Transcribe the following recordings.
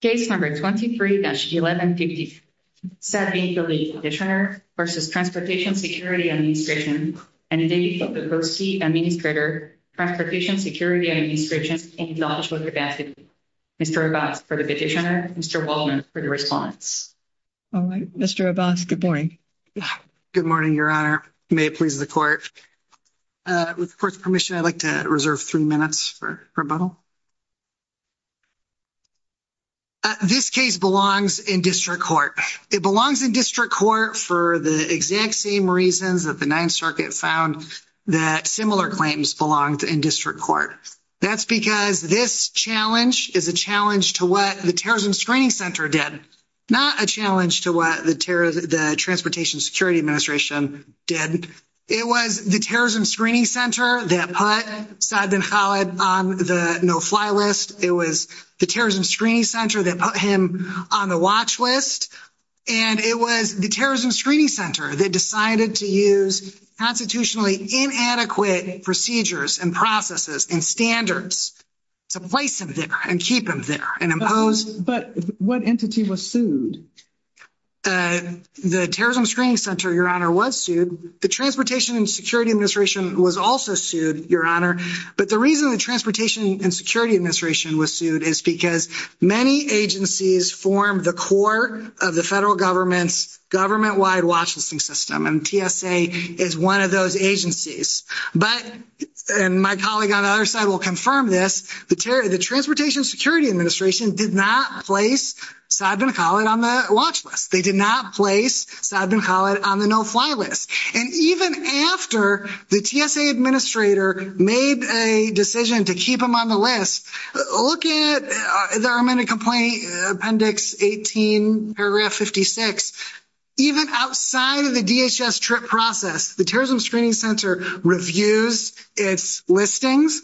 Case number 23-1157, Saad Bin Khalid Petitioner v. Transportation Security Administration and David Potapovsky, Administrator, Transportation Security Administration in the Office of Capacity. Mr. Abbas for the petitioner, Mr. Waldman for the respondents. All right, Mr. Abbas, good morning. Good morning, Your Honor. May it please the Court. With the Court's permission, I'd like to reserve three minutes for rebuttal. This case belongs in district court. It belongs in district court for the exact same reasons that the Ninth Circuit found that similar claims belonged in district court. That's because this challenge is a challenge to what the Terrorism Screening Center did, not a challenge to what the Transportation Security Administration did. It was the Terrorism Screening Center that put Saad Bin Khalid on the no-fly list. It was the Terrorism Screening Center that put him on the watch list. And it was the Terrorism Screening Center that decided to use constitutionally inadequate procedures and processes and standards to place him there and keep him there and impose. But what entity was sued? The Terrorism Screening Center, Your Honor, was sued. The Transportation and Security Administration was also sued, Your Honor. But the reason the Transportation and Security Administration was sued is because many agencies form the core of the federal government's government-wide watch listing system, and TSA is one of those agencies. But, and my colleague on the other side will confirm this, the Transportation Security Administration did not place Saad Bin Khalid on the watch list. They did not place Saad Bin Khalid on the no-fly list. And even after the TSA administrator made a decision to keep him on the list, look at, there are many complaints, Appendix 18, Paragraph 56. Even outside of the DHS TRIP process, the Terrorism Screening Center reviews its listings.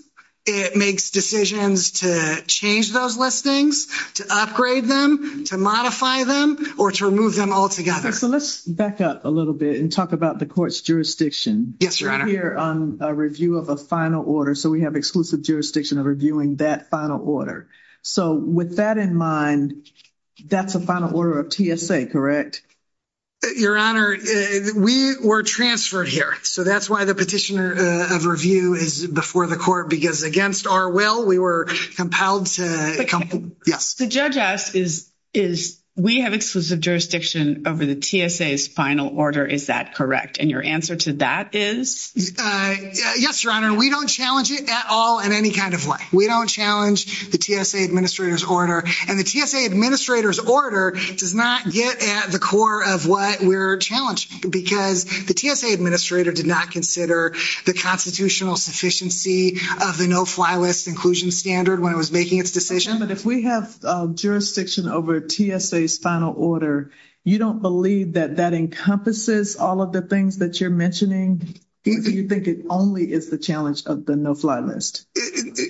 It makes decisions to change those listings, to upgrade them, to modify them, or to remove them altogether. So let's back up a little bit and talk about the court's jurisdiction. Yes, Your Honor. We're here on a review of a final order, so we have exclusive jurisdiction of reviewing that final order. So with that in mind, that's a final order of TSA, correct? Your Honor, we were transferred here, so that's why the petitioner of review is before the court, because against our will, we were compelled to, yes. The judge asked, is we have exclusive jurisdiction over the TSA's final order, is that correct? And your answer to that is? Yes, Your Honor. We don't challenge it at all in any kind of way. We don't challenge the TSA administrator's order. And the TSA administrator's order does not get at the core of what we're challenging, because the TSA administrator did not consider the constitutional sufficiency of the no-fly list inclusion standard when it was making its decision. But if we have jurisdiction over TSA's final order, you don't believe that that encompasses all of the things that you're mentioning? You think it only is the challenge of the no-fly list?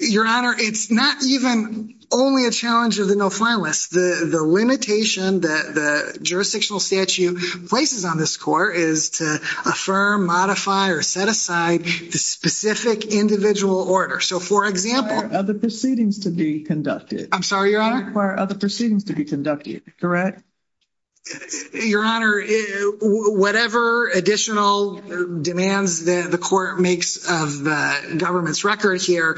Your Honor, it's not even only a challenge of the no-fly list. The limitation that the jurisdictional statute places on this court is to affirm, modify, or set aside the specific individual order. So, for example— It doesn't require other proceedings to be conducted. I'm sorry, Your Honor? It doesn't require other proceedings to be conducted, correct? Your Honor, whatever additional demands that the court makes of the government's record here,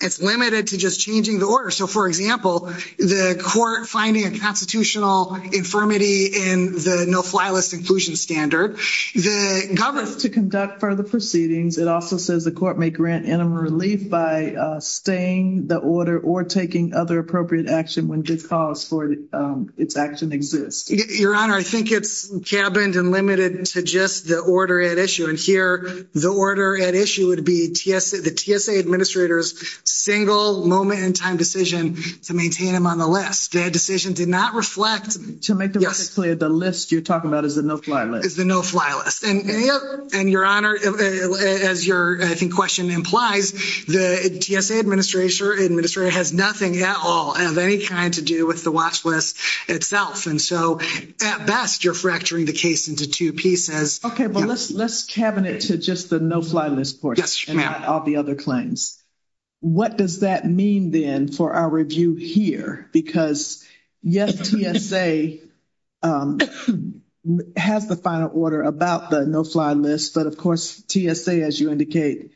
it's limited to just changing the order. So, for example, the court finding a constitutional infirmity in the no-fly list inclusion standard that governs to conduct further proceedings, it also says the court may grant interim relief by staying the order or taking other appropriate action when good cause for its action exists. Your Honor, I think it's cabined and limited to just the order at issue. And here, the order at issue would be the TSA administrator's single moment-in-time decision to maintain him on the list. That decision did not reflect— To make the record clear, the list you're talking about is the no-fly list? Is the no-fly list. And, Your Honor, as your, I think, question implies, the TSA administrator has nothing at all of any kind to do with the watch list itself. And so, at best, you're fracturing the case into two pieces. Okay, but let's cabinet to just the no-fly list portion and not all the other claims. What does that mean, then, for our review here? Because, yes, TSA has the final order about the no-fly list, but, of course, TSA, as you indicate,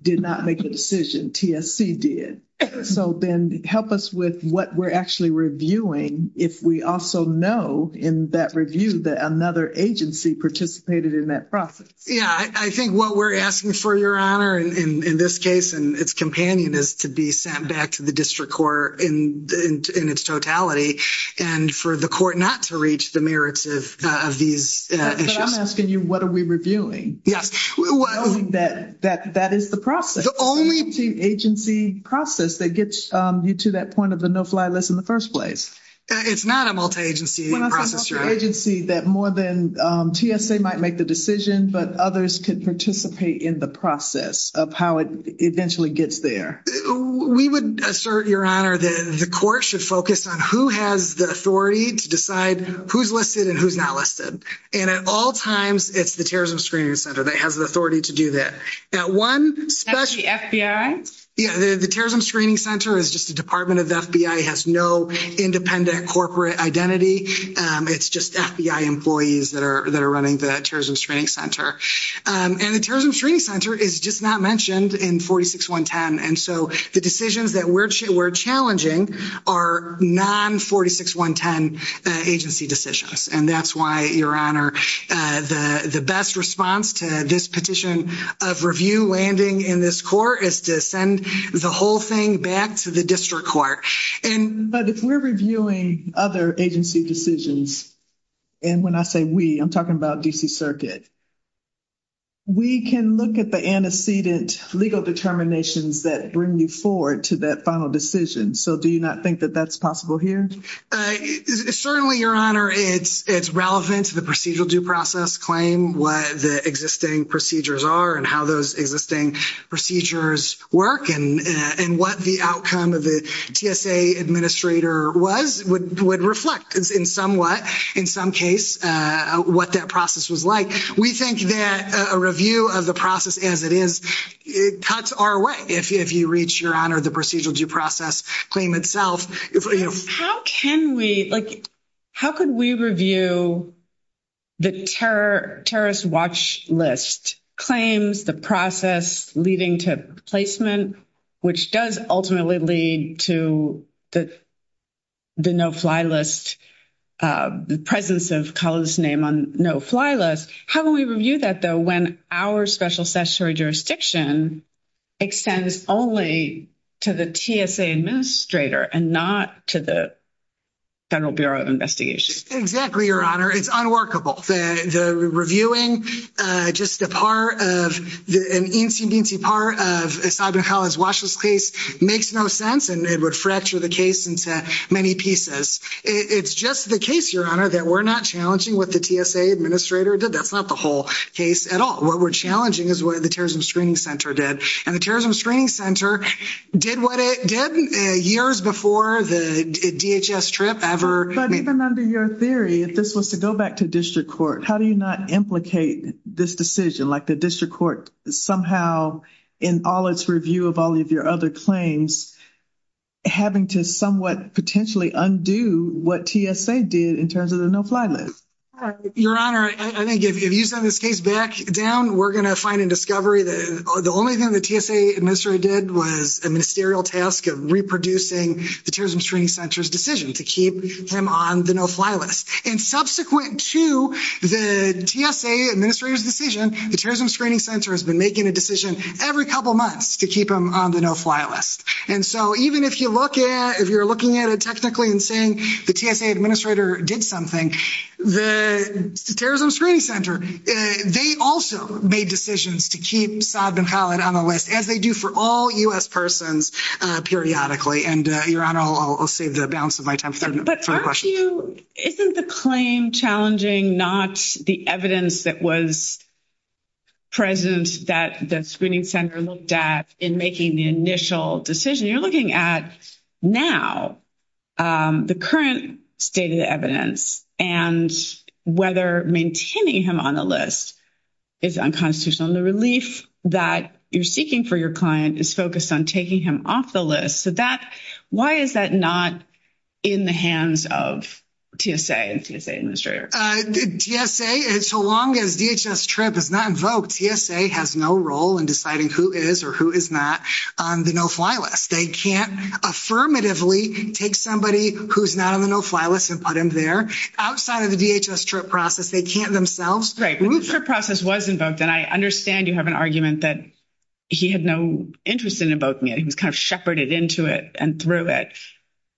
did not make the decision. TSC did. So, then, help us with what we're actually reviewing if we also know in that review that another agency participated in that process. Yeah, I think what we're asking for, Your Honor, in this case and its companion, is to be sent back to the district court in its totality and for the court not to reach the merits of these issues. But I'm asking you, what are we reviewing? Yes. That is the process. The only— It's a multi-agency process that gets you to that point of the no-fly list in the first place. It's not a multi-agency process, Your Honor. It's not a multi-agency that more than TSA might make the decision, but others could participate in the process of how it eventually gets there. We would assert, Your Honor, that the court should focus on who has the authority to decide who's listed and who's not listed. And at all times, it's the Terrorism Screening Center that has the authority to do that. At one— That's the FBI? Yeah, the Terrorism Screening Center is just a department of the FBI. It has no independent corporate identity. It's just FBI employees that are running the Terrorism Screening Center. And the Terrorism Screening Center is just not mentioned in 46.110. And so, the decisions that we're challenging are non-46.110 agency decisions. And that's why, Your Honor, the best response to this petition of review landing in this court is to send the whole thing back to the district court. And— Reviewing other agency decisions—and when I say we, I'm talking about D.C. Circuit—we can look at the antecedent legal determinations that bring you forward to that final decision. So, do you not think that that's possible here? Certainly, Your Honor, it's relevant to the procedural due process claim, what the existing procedures are, and how those existing procedures work, and what the outcome of the TSA administrator would reflect, in some case, what that process was like. We think that a review of the process as it is, it cuts our way, if you reach, Your Honor, the procedural due process claim itself. How can we—how could we review the terrorist watch list claims, the process leading to placement, which does ultimately lead to the no-fly list, the presence of Kala's name on no-fly list? How can we review that, though, when our special statutory jurisdiction extends only to the TSA administrator and not to the Federal Bureau of Investigation? Exactly, Your Honor. It's unworkable. The reviewing just a part of the—an eensy-meensy part of Simon Kala's watch list case makes no sense, and it would fracture the case into many pieces. It's just the case, Your Honor, that we're not challenging what the TSA administrator did. That's not the whole case at all. What we're challenging is what the Terrorism Screening Center did. And the Terrorism Screening Center did what it did years before the DHS trip ever— But even under your theory, if this was to go back to district court, how do you not implicate this decision, like the district court somehow, in all its review of all of your other claims, having to somewhat potentially undo what TSA did in terms of the no-fly list? Your Honor, I think if you send this case back down, we're going to find in discovery that the only thing the TSA administrator did was a ministerial task of reproducing the Terrorism Screening Center's decision to keep him on the no-fly list. And subsequent to the TSA administrator's decision, the Terrorism Screening Center has been making a decision every couple months to keep him on the no-fly list. And so even if you're looking at it technically and saying the TSA administrator did something, the Terrorism Screening Center, they also made decisions to keep Saad bin Khaled on the list, as they do for all U.S. persons periodically. And, Your Honor, I'll save the balance of my time for further questions. But aren't you — isn't the claim challenging not the evidence that was present that the Screening Center looked at in making the initial decision? You're looking at now the current state of the evidence and whether maintaining him on the list is unconstitutional. And the relief that you're seeking for your client is focused on taking him off the list. So that — why is that not in the hands of TSA and TSA administrators? TSA, so long as DHS TRIP is not invoked, TSA has no role in deciding who is or who is not on the no-fly list. They can't affirmatively take somebody who's not on the no-fly list and put him there. Outside of the DHS TRIP process, they can't themselves. Right. But the TRIP process was invoked. And I understand you have an argument that he had no interest in invoking it. He was kind of shepherded into it and through it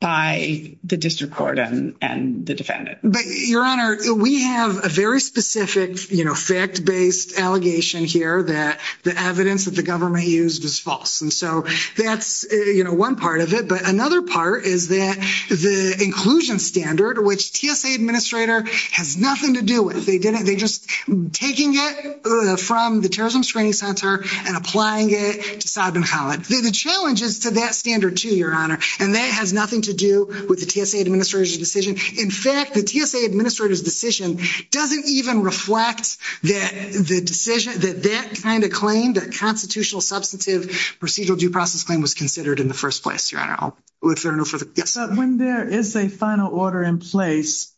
by the district court and the defendant. But, Your Honor, we have a very specific, you know, fact-based allegation here that the evidence that the government used is false. And so that's, you know, one part of it. But another part is that the inclusion standard, which TSA administrator has nothing to do with, they didn't — they just — taking it from the Terrorism Screening Center and applying it to Saad bin Khalid. The challenge is to that standard, too, Your Honor, and that has nothing to do with the TSA administrator's decision. In fact, the TSA administrator's decision doesn't even reflect that the decision — that that kind of claim, that constitutional substantive procedural due process claim, was considered in the first place, Your Honor. If there are no further — yes? When there is a final order in place,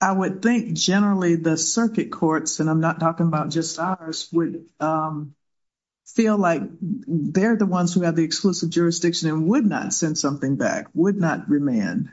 I would think generally the circuit courts, and I'm not talking about just ours, would feel like they're the ones who have the exclusive jurisdiction and would not send something back, would not remand.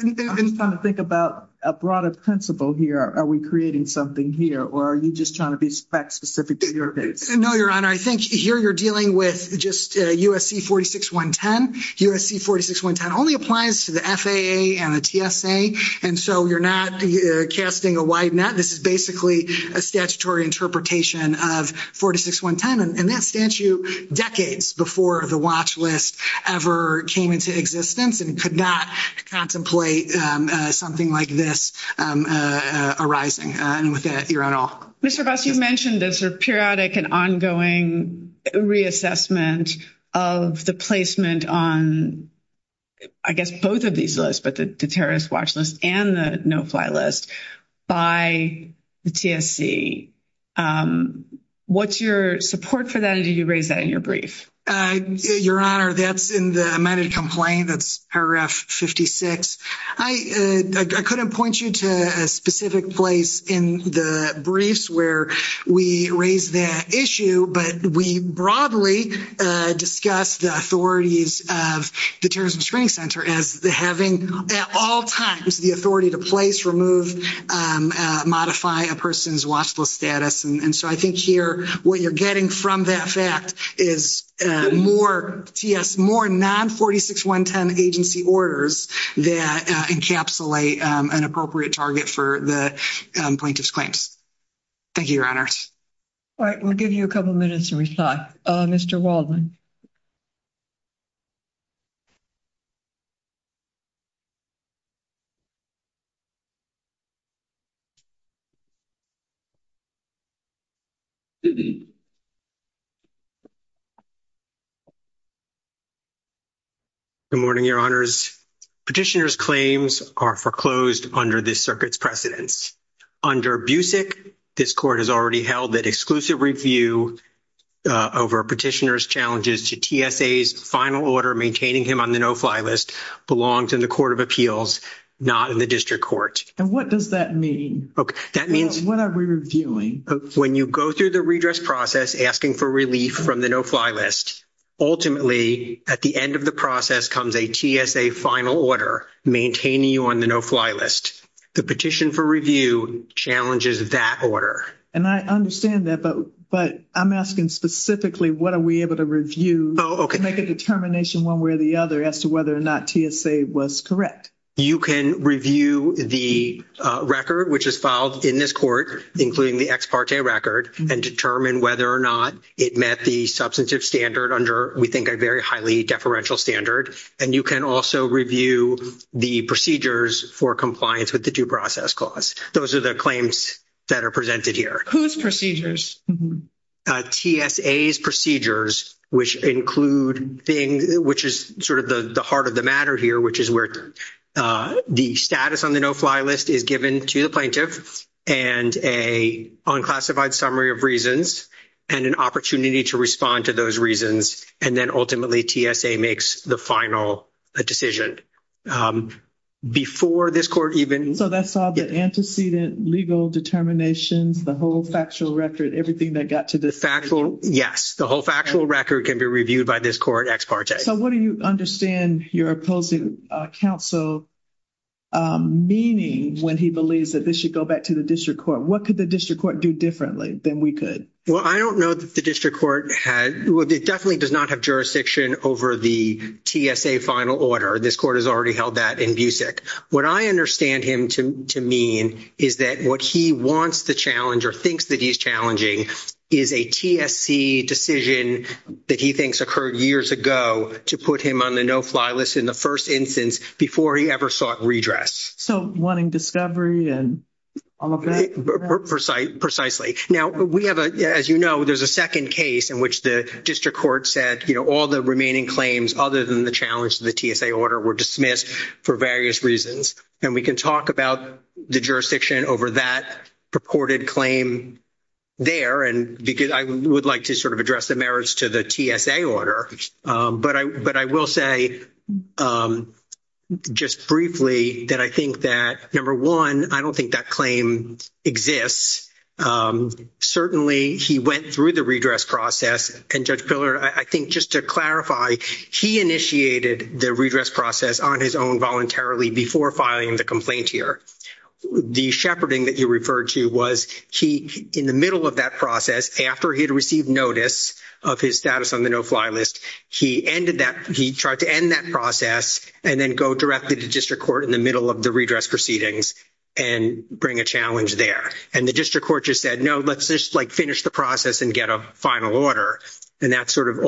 I'm just trying to think about a broader principle here. Are we creating something here, or are you just trying to be fact-specific to your case? No, Your Honor. I think here you're dealing with just USC 46110. USC 46110 only applies to the FAA and the TSA. And so you're casting a wide net. This is basically a statutory interpretation of 46110, and that statute decades before the watch list ever came into existence and could not contemplate something like this arising. And with that, Your Honor. Mr. Buss, you've mentioned this sort of periodic and ongoing reassessment of the placement on, I guess, both of these lists, but the watch list and the no-fly list, by the TSC. What's your support for that, and did you raise that in your brief? Your Honor, that's in the amended complaint, that's paragraph 56. I couldn't point you to a specific place in the briefs where we raised that issue, but we broadly discussed the authorities of the Terrorism Screening Center as having at all times the authority to place, remove, modify a person's watch list status. And so I think here what you're getting from that fact is more non-46110 agency orders that encapsulate an appropriate target for the plaintiff's claims. Thank you, Your Honor. All right, we'll give you a couple minutes to reply. Mr. Waldman. Good morning, Your Honors. Petitioner's claims are foreclosed under this circuit's precedence. Under BUSIC, this Court has already held that exclusive review over petitioner's challenges to TSA's final order maintaining him on the no-fly list belongs in the Court of Appeals, not in the District Court. And what does that mean? Okay, that means... What are we reviewing? When you go through the redress process asking for relief from the no-fly list, ultimately at the end of the process comes a TSA final order maintaining you on the no-fly list. The petition for review challenges that order. And I understand that, but I'm asking specifically what are we able to review to make a determination one way or the other as to whether or not TSA was correct. You can review the record which is filed in this Court, including the ex parte record, and determine whether or not it met the substantive standard under, we think, a very highly deferential standard. And you can also review the procedures for compliance with the due process clause. Those are the claims that are presented here. Whose procedures? TSA's procedures, which include things... Which is sort of the heart of the matter here, which is where the status on the no-fly list is given to the plaintiff and an unclassified summary of reasons and an opportunity to respond to those reasons. And then ultimately TSA makes the final decision. Before this Court even... So that's all the antecedent legal determinations, the whole factual record, everything that got to the... Factual, yes. The whole factual record can be reviewed by this Court ex parte. So what do you understand your opposing counsel meaning when he believes that this should go back to the district court? What could the district court do differently than we could? Well, I don't know that the district court had... It definitely does not have jurisdiction over the TSA final order. This Court has already held that in BUSIC. What I understand him to mean is that what he wants to challenge or thinks that he's challenging is a TSC decision that he thinks occurred years ago to put him on the no-fly list in the first instance before he ever sought redress. So wanting discovery and all of that? Precisely. Now we have, as you know, there's a second case in which the district court said, you know, all the remaining claims other than the challenge to the TSA order were dismissed for various reasons. And we can talk about the jurisdiction over that purported claim there. And I would like to sort of address the merits to the TSA order. But I will say just briefly that I think that, number one, I don't think that claim exists. Certainly, he went through the redress process. And Judge Pillar, I think just to clarify, he initiated the redress process on his own voluntarily before filing the complaint here. The shepherding that you referred to was he, in the middle of that process, after he had received notice of his status on the no-fly list, he ended that, he tried to end that process and then go directly to district court in the middle of the redress proceedings and bring a challenge there. And the district court just said, no, let's just like finish the process and get a final order. And that's sort of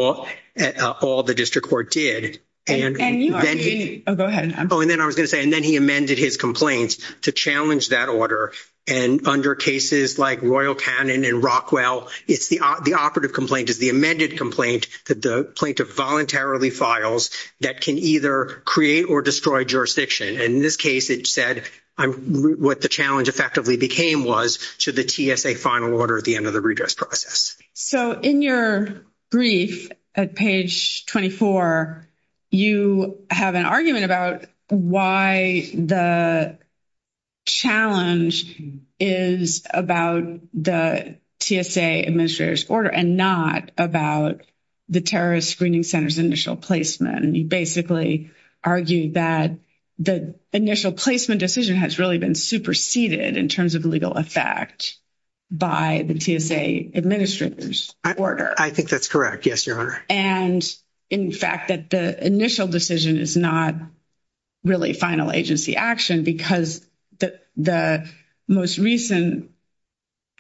all the district court did. Oh, go ahead. Oh, and then I was going to say, and then he amended his complaints to challenge that order. And under cases like Royal Cannon and Rockwell, the operative complaint is the amended complaint that the plaintiff voluntarily files that can either create or destroy jurisdiction. And in this case, it said what the challenge effectively became was to the TSA final order at the end of the redress process. So in your brief at page 24, you have an argument about why the challenge is about the TSA administrator's order and not about the terrorist screening center's initial placement. And you basically argued that the initial placement decision has really been superseded in terms of legal effect by the TSA administrator's order. I think that's correct. Yes, your honor. And in fact, that the initial decision is not really final agency action because the most recent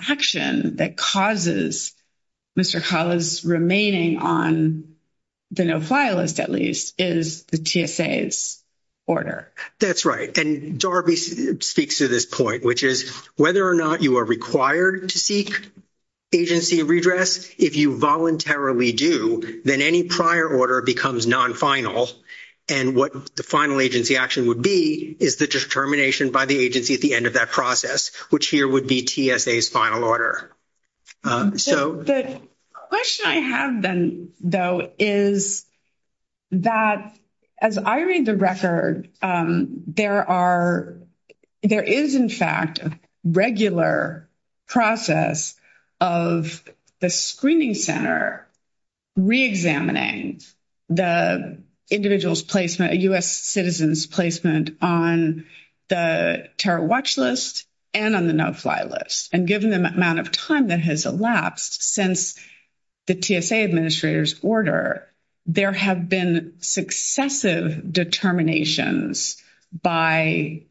action that causes Mr. Kala's remaining on the no file list at least is the TSA's order. That's right. And Darby speaks to this point, which is whether or not you are required to seek agency redress, if you voluntarily do, then any prior order becomes non-final. And what the final agency action would be is the determination by the agency at the end of that process, which here would be TSA's final order. So the question I have then though is that as I read the record, there is in fact a regular process of the screening center re-examining the individual's placement, a U.S. citizen's placement on the terror watch list and on the no file list. And given the amount of time that has elapsed since the TSA administrator's order, there have been successive determinations by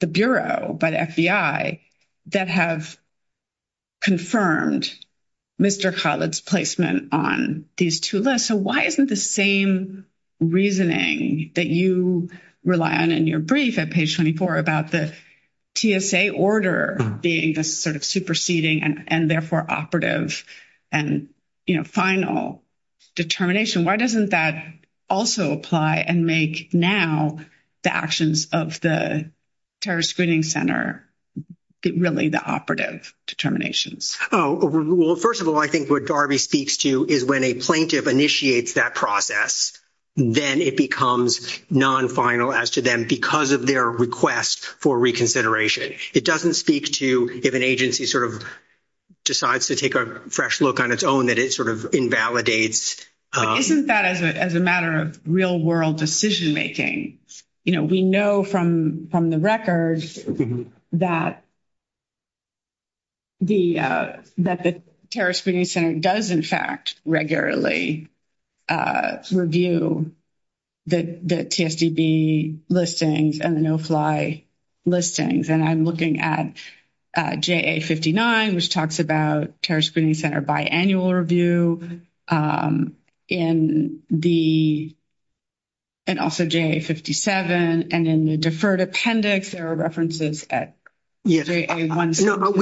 the bureau, by the FBI that have confirmed Mr. Kala's placement on these two lists. So why isn't the same reasoning that you rely on in your brief at page 24 about the TSA order being this sort of superseding and therefore operative and final determination? Why doesn't that also apply and make now the actions of the Terrorist Screening Center really the operative determinations? Oh, well, first of all, I think what Darby speaks to is when a plaintiff initiates that process, then it becomes non-final as to them because of their request for reconsideration. It doesn't speak to if an agency sort of decides to take a fresh look on its own that it sort of invalidates. Isn't that as a matter of real world decision making? You know, we know from the records that the Terrorist Screening Center does in fact regularly review the TSDB listings and the no JA-59, which talks about Terrorist Screening Center biannual review and also JA-57. And in the deferred appendix, there are references at JA-178.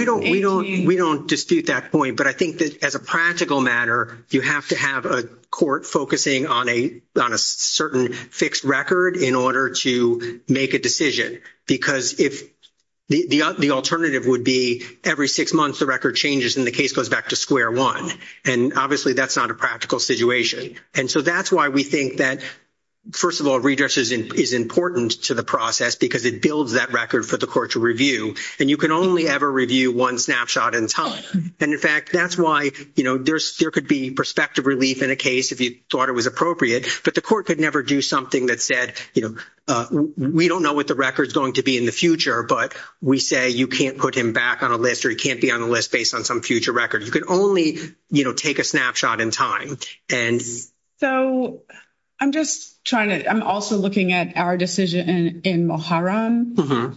We don't dispute that point. But I think that as a practical matter, you have to have a court focusing on a certain fixed record in order to make a decision. Because if the alternative would be every six months, the record changes, and the case goes back to square one. And obviously, that's not a practical situation. And so that's why we think that, first of all, redress is important to the process because it builds that record for the court to review. And you can only ever review one snapshot in time. And in fact, that's why, you know, there could be perspective relief in a case if you thought it was appropriate. But the court could never do something that said, you know, we don't know what the record is going to be in the future, but we say you can't put him back on a list or he can't be on a list based on some future record. You can only, you know, take a snapshot in time. And... So I'm just trying to, I'm also looking at our decision in Muharram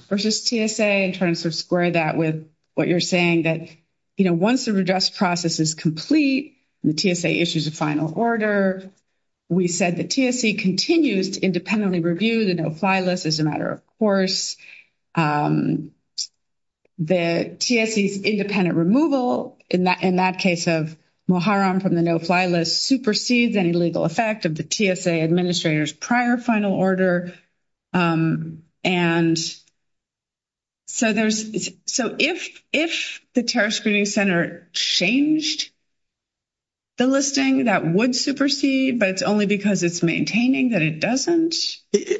versus TSA and trying to sort of square that with what you're saying that, you know, once the redress process is complete and the TSA issues a final order, we said the TSA continues to independently review the no-fly list as a matter of course. The TSA's independent removal in that case of Muharram from the no-fly list supersedes any legal effect of the TSA administrator's prior final order. And so there's, so if the Terrorist Screening Center changed the listing, that would supersede, but it's only because it's maintaining that it doesn't?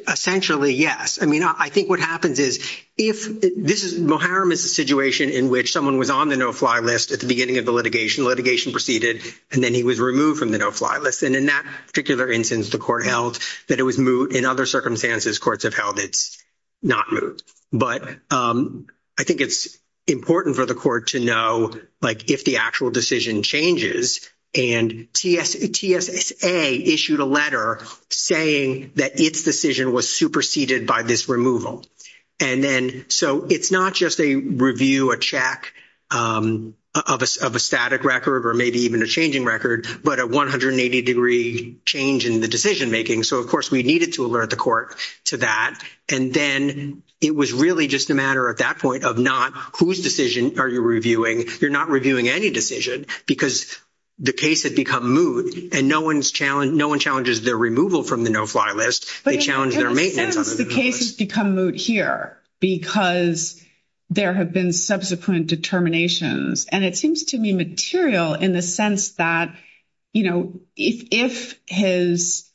Essentially, yes. I mean, I think what happens is if this is, Muharram is a situation in which someone was on the no-fly list at the beginning of the litigation, litigation proceeded, and then he was removed from the no-fly list. And in that particular instance, the court held that it was moot. In other circumstances, courts have held it's not moot. But I think it's important for the court to know, like, if the actual decision changes and TSA issued a letter saying that its decision was superseded by this removal. And then, so it's not just a review, a check of a static record or maybe even a changing record, but a 180-degree change in the decision-making. So of course we needed to alert the court to that. And then it was really just a matter at that point of not whose decision are you reviewing? You're not reviewing any decision because the case had become moot and no one challenges their removal from the no-fly list. They challenge their maintenance on the no-fly list. But in a sense, the case has become moot here because there have been subsequent determinations. And it seems to me material in the sense that, you know, if his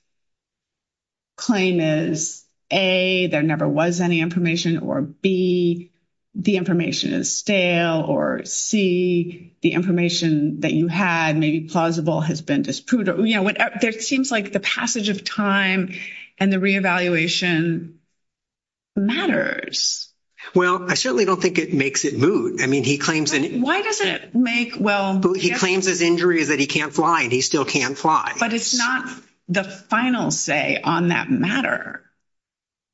claim is A, there never was any information, or B, the information is stale, or C, the information that you had maybe plausible has been disproved. You know, there seems like the passage of time and the re-evaluation matters. Well, I certainly don't think it makes it moot. I mean, he claims it. Why doesn't it make, well... He claims his injury is that he can't fly and he still can't fly. But it's not the final say on that matter.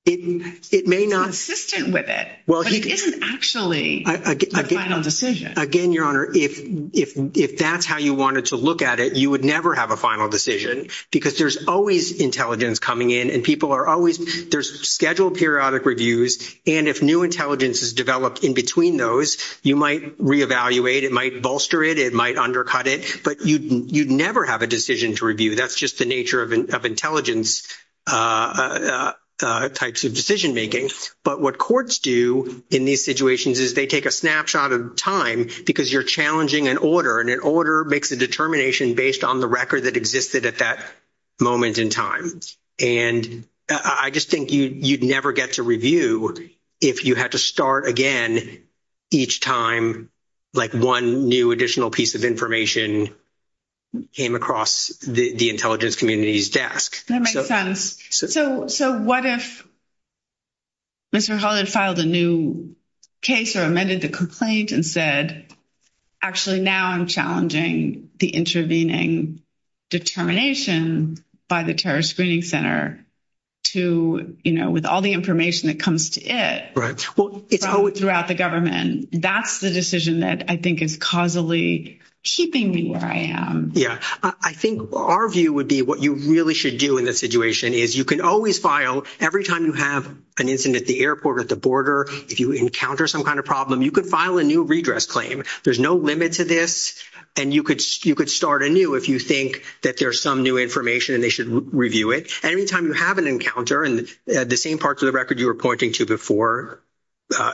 It may not... He's consistent with it. Well, he... But it isn't actually... A final decision. Again, Your Honor, if that's how you wanted to look at it, you would never have a final decision because there's always intelligence coming in and people are always... There's scheduled periodic reviews. And if new intelligence is developed in between those, you might re-evaluate, it might bolster it, it might undercut it, but you'd never have a decision to review. That's just the nature of intelligence types of decision-making. But what courts do in these situations is they take a snapshot of time because you're challenging an order and an order makes a determination based on the record that existed at that moment in time. And I just think you'd never get to review if you had to start again each time like one new additional piece of information came across the intelligence community's desk. That makes sense. So what if Mr. Hall had filed a new case or amended the complaint and said, actually now I'm challenging the intervening determination by the Terrorist Screening Center to... With all the information that comes to it from throughout the government, that's the decision that I think is causally keeping me where I am. Yeah. I think our view would be what you really should do in this situation is you can always file every time you have an incident at the airport, at the border, if you encounter some kind of problem, you could file a new redress claim. There's no limit to this and you could start anew if you think that there's some new information and they should review it. Anytime you have an encounter, and the same parts of the record you were pointing to before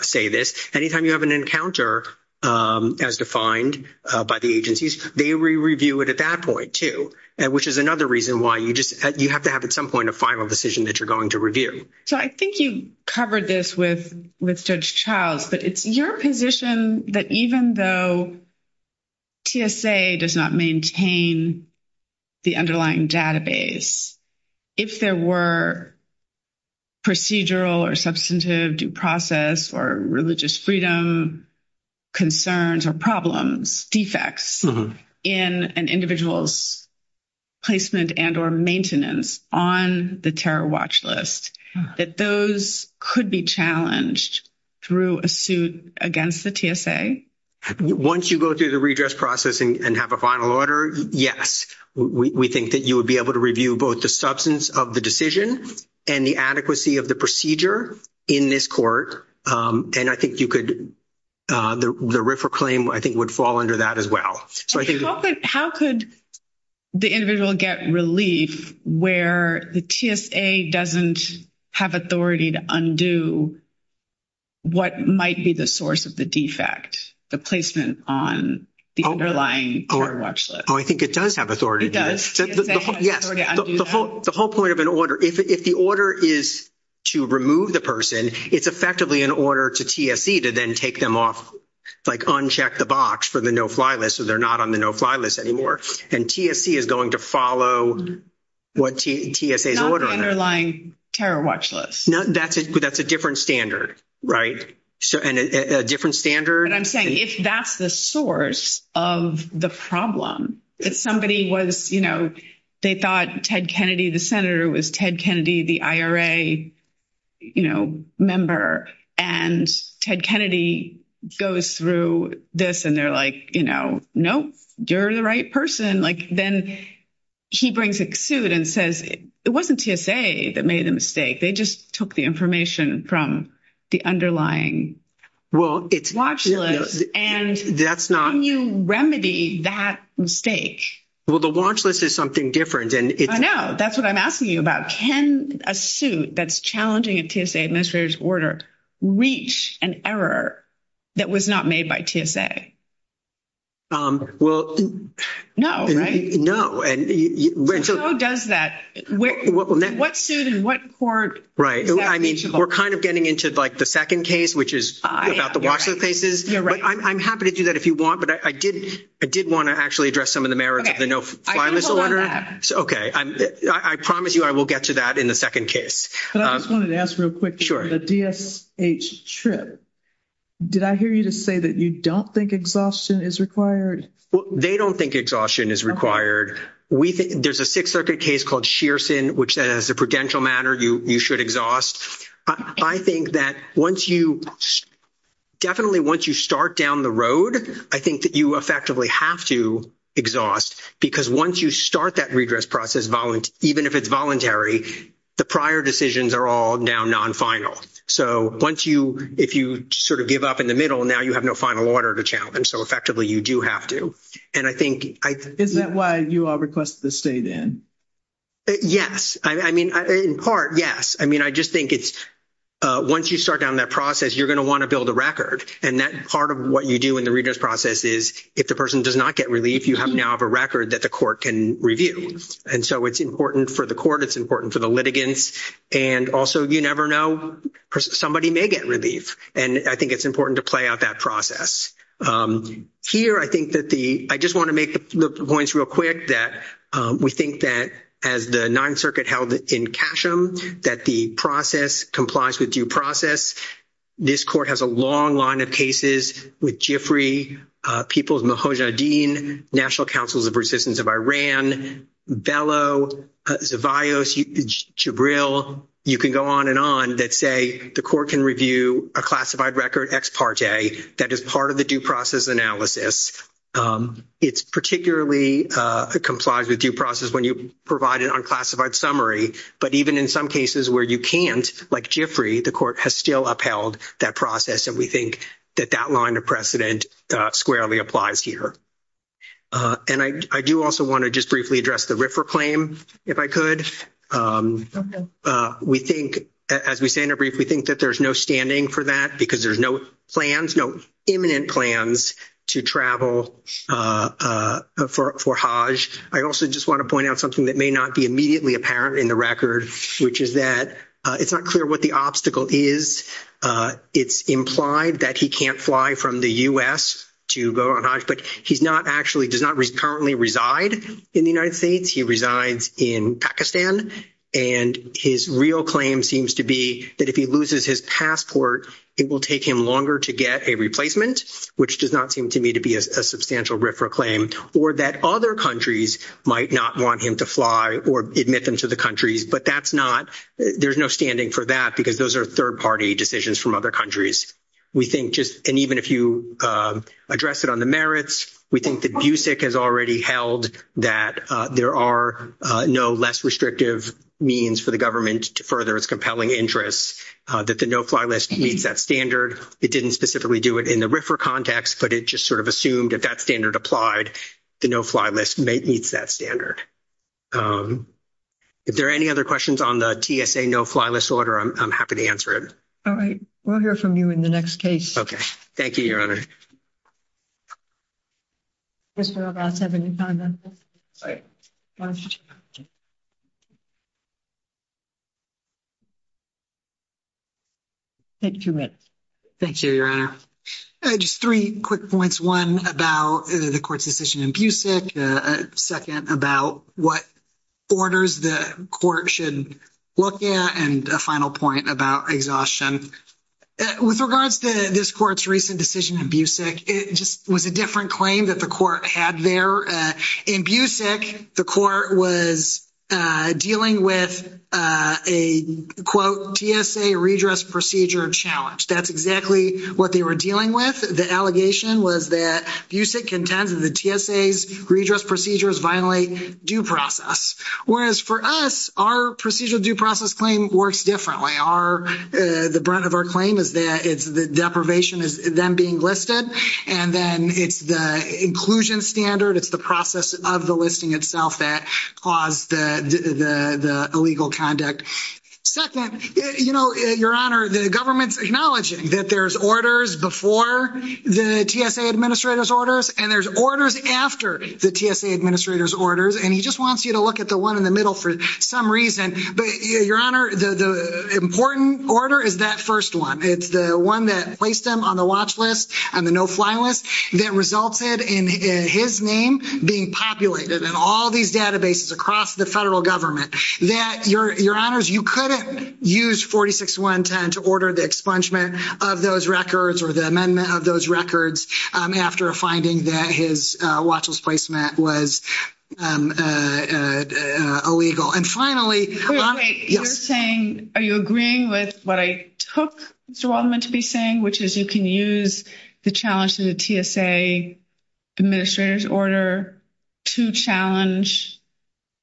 say this, anytime you have an encounter as defined by the agencies, they re-review it at that point too, which is another reason why you have to have at some point a final decision that you're going to review. So I think you covered this with Judge Childs, but it's your position that even though TSA does not maintain the underlying database, if there were procedural or substantive due process or religious freedom concerns or problems, defects in an individual's placement and or maintenance on the terror watch list, that those could be challenged through a suit against the TSA? Once you go through the redress process and have a final order, yes, we think that you would be able to review both the substance of the decision and the adequacy of the procedure in this court. And I think you could, the RFRA claim I think would fall under that as well. How could the individual get relief where the TSA doesn't have authority to undo what might be the source of the defect, the placement on the underlying terror watch list? Oh, I think it does have authority to do this. The whole point of an order, if the order is to remove the person, it's effectively an order to TSA to then take them off, like uncheck the box for the no-fly list, so they're not on the no-fly list anymore. And TSC is going to follow what TSA's ordering. Not the underlying terror watch list. That's a different standard, right? A different standard. And I'm saying if that's the source of the problem, if somebody was, you know, they thought Ted Kennedy, the Senator, was Ted Kennedy, the IRA, you know, member, and Ted Kennedy goes through this and they're like, you know, nope, you're the right person, like, then he brings a suit and says, it wasn't TSA that made the mistake. They just took the information from the underlying watch list. And can you remedy that mistake? Well, the watch list is something different. I know. That's what I'm asking you about. Can a suit that's challenging a TSA administrator's reach an error that was not made by TSA? Well, no. No, right? No. And until- So who does that? What suit and what court- Right. I mean, we're kind of getting into, like, the second case, which is about the watch list cases. But I'm happy to do that if you want. But I did want to actually address some of the merits of the no-fly list order. I can hold on to that. Okay. I promise you I will get to that in the second case. But I just wanted to ask real quick. Sure. The DSH trip, did I hear you to say that you don't think exhaustion is required? Well, they don't think exhaustion is required. There's a Sixth Circuit case called Shearson, which, as a prudential matter, you should exhaust. I think that once you- definitely once you start down the road, I think that you effectively have to exhaust because once you start that redress process, even if it's voluntary, the prior decisions are all now non-final. So once you- if you sort of give up in the middle, now you have no final order to challenge. So effectively, you do have to. And I think- Is that why you all requested to stay, then? Yes. I mean, in part, yes. I mean, I just think it's- once you start down that process, you're going to want to build a record. And that part of what you do in the redress process is if the person does not get relief, you now have a record that the court can review. And so it's important for the court. It's important for the litigants. And also, you never know. Somebody may get relief. And I think it's important to play out that process. Here, I think that the- I just want to make the points real quick that we think that, as the Ninth Circuit held in Kashem, that the process complies with due process. This court has a long line of cases with Jifri, People's Mahajanuddin, National Councils of Resistance of Iran, Velo, Zavaios, Jibril. You can go on and on that say the court can review a classified record ex parte that is part of the due process analysis. It's particularly- it complies with due process when you provide an unclassified summary. But even in some cases where you can't, like Jifri, the court has still upheld that process. And we think that that line of precedent squarely applies here. And I do also want to just briefly address the RIFRA claim, if I could. We think, as we say in a brief, we think that there's no standing for that because there's no plans, no imminent plans to travel for Hajj. I also just want to point out something that may not be immediately apparent in the record, which is that it's not clear what the obstacle is. It's implied that he can't fly from the U.S. to go on Hajj, but he's not actually, does not currently reside in the United States. He resides in Pakistan. And his real claim seems to be that if he loses his passport, it will take him longer to get a replacement, which does not seem to me to be a substantial RIFRA claim, or that other countries might not want him to fly or admit them to the countries. But that's not- there's no standing for that because those are third-party decisions from other countries. We think just, and even if you address it on the merits, we think that BUSIC has already held that there are no less restrictive means for the government to further its compelling interests, that the no-fly list meets that standard. It didn't specifically do it in the RIFRA context, but it just sort of assumed if that standard applied, the no-fly list meets that standard. If there are any other questions on the All right. We'll hear from you in the next case. Okay. Thank you, Your Honor. Take two minutes. Thank you, Your Honor. Just three quick points. One about the court's decision in BUSIC, a second about what orders the court should look at, and a final point about exhaustion. With regards to this court's recent decision in BUSIC, it just was a different claim that the court had there. In BUSIC, the court was dealing with a, quote, TSA redress procedure challenge. That's exactly what they were dealing with. The allegation was that BUSIC contends that the TSA's redress procedures violate due process, whereas for us, our procedural due process claim works differently. The brunt of our claim is that it's the deprivation is then being listed, and then it's the inclusion standard, it's the process of the listing itself that caused the illegal conduct. Second, Your Honor, the government's acknowledging that there's orders before the TSA administrator's orders, and there's orders after the TSA administrator's orders, and he just wants you to look at the one in the middle for some reason. But, Your Honor, the important order is that first one. It's the one that placed him on the watch list, on the no-fly list, that resulted in his name being populated in all these databases across the federal government. That, Your Honors, you couldn't use 46.110 to order the expungement of those records or the amendment of those records after a finding that his watch list placement was illegal. And finally... You're saying, are you agreeing with what I took Mr. Waldman to be saying, which is you can use the challenge to the TSA administrator's order to challenge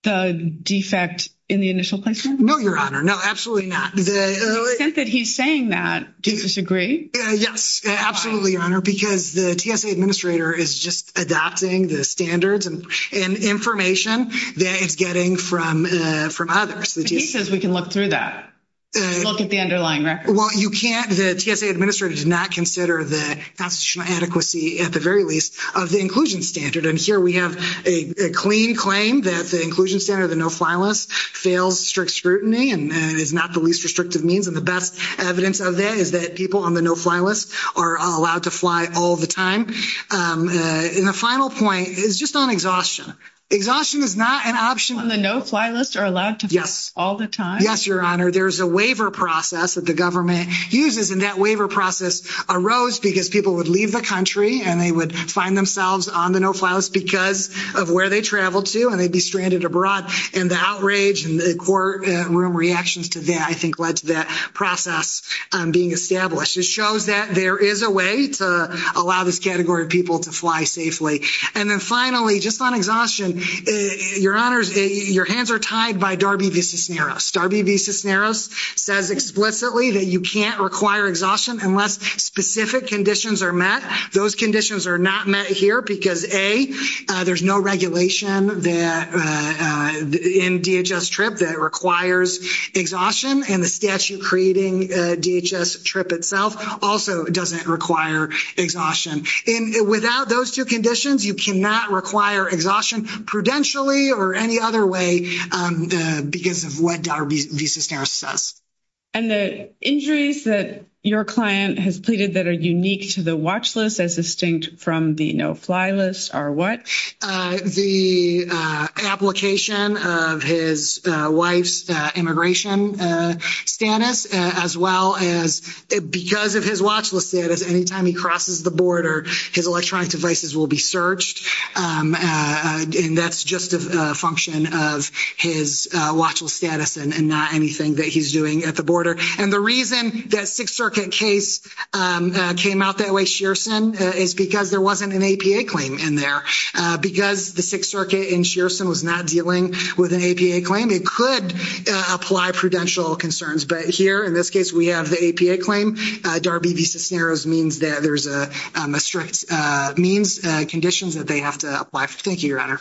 the defect in the initial placement? No, Your Honor. No, absolutely not. To the extent that he's saying that, do you disagree? Yes, absolutely, Your Honor, because the TSA administrator is just adopting the standards and information that it's getting from others. But he says we can look through that, look at the underlying record. Well, you can't. The TSA administrator did not consider the constitutional adequacy, at the very least, of the inclusion standard. And here we have a clean claim that the inclusion standard, the no-fly list, fails strict scrutiny and is not the least restrictive means. And the best evidence of that is that people on the no-fly list are allowed to fly all the time. And the final point is just on exhaustion. Exhaustion is not an option. When the no-fly list are allowed to fly all the time? Yes, Your Honor. There's a waiver process that the government uses, and that waiver process arose because people would leave the country and they would find themselves on the no-fly list because of where they traveled to and they'd be stranded abroad. And the outrage and the courtroom reactions to that, I think, led to that process being established. It shows that there is a way to allow this category of people to fly safely. And then finally, just on exhaustion, Your Honors, your hands are tied by Darby v. Cisneros. Darby v. Cisneros says explicitly that you can't require exhaustion unless specific conditions are met. Those conditions are not met here because, A, there's no regulation in DHS TRIP that requires exhaustion, and the statute creating DHS TRIP itself also doesn't require exhaustion. Without those two conditions, you cannot require exhaustion prudentially or any other way because of what Darby v. Cisneros says. And the injuries that your client has pleaded that are unique to the watch list as distinct from the no-fly list are what? The application of his wife's immigration status as well as because of his watch list status, anytime he crosses the border, his electronic devices will be searched. And that's just a function of his watch list status and not anything that he's doing at the border. And the reason that Sixth Circuit case came out that way, Shearson, is because there wasn't an APA claim in there. Because the Sixth Circuit in Shearson was not dealing with an APA claim, it could apply prudential concerns. But here, in this case, we have the APA claim. Darby v. Cisneros means that there's a strict means and conditions that they have to apply for. Thank you, Your Honor.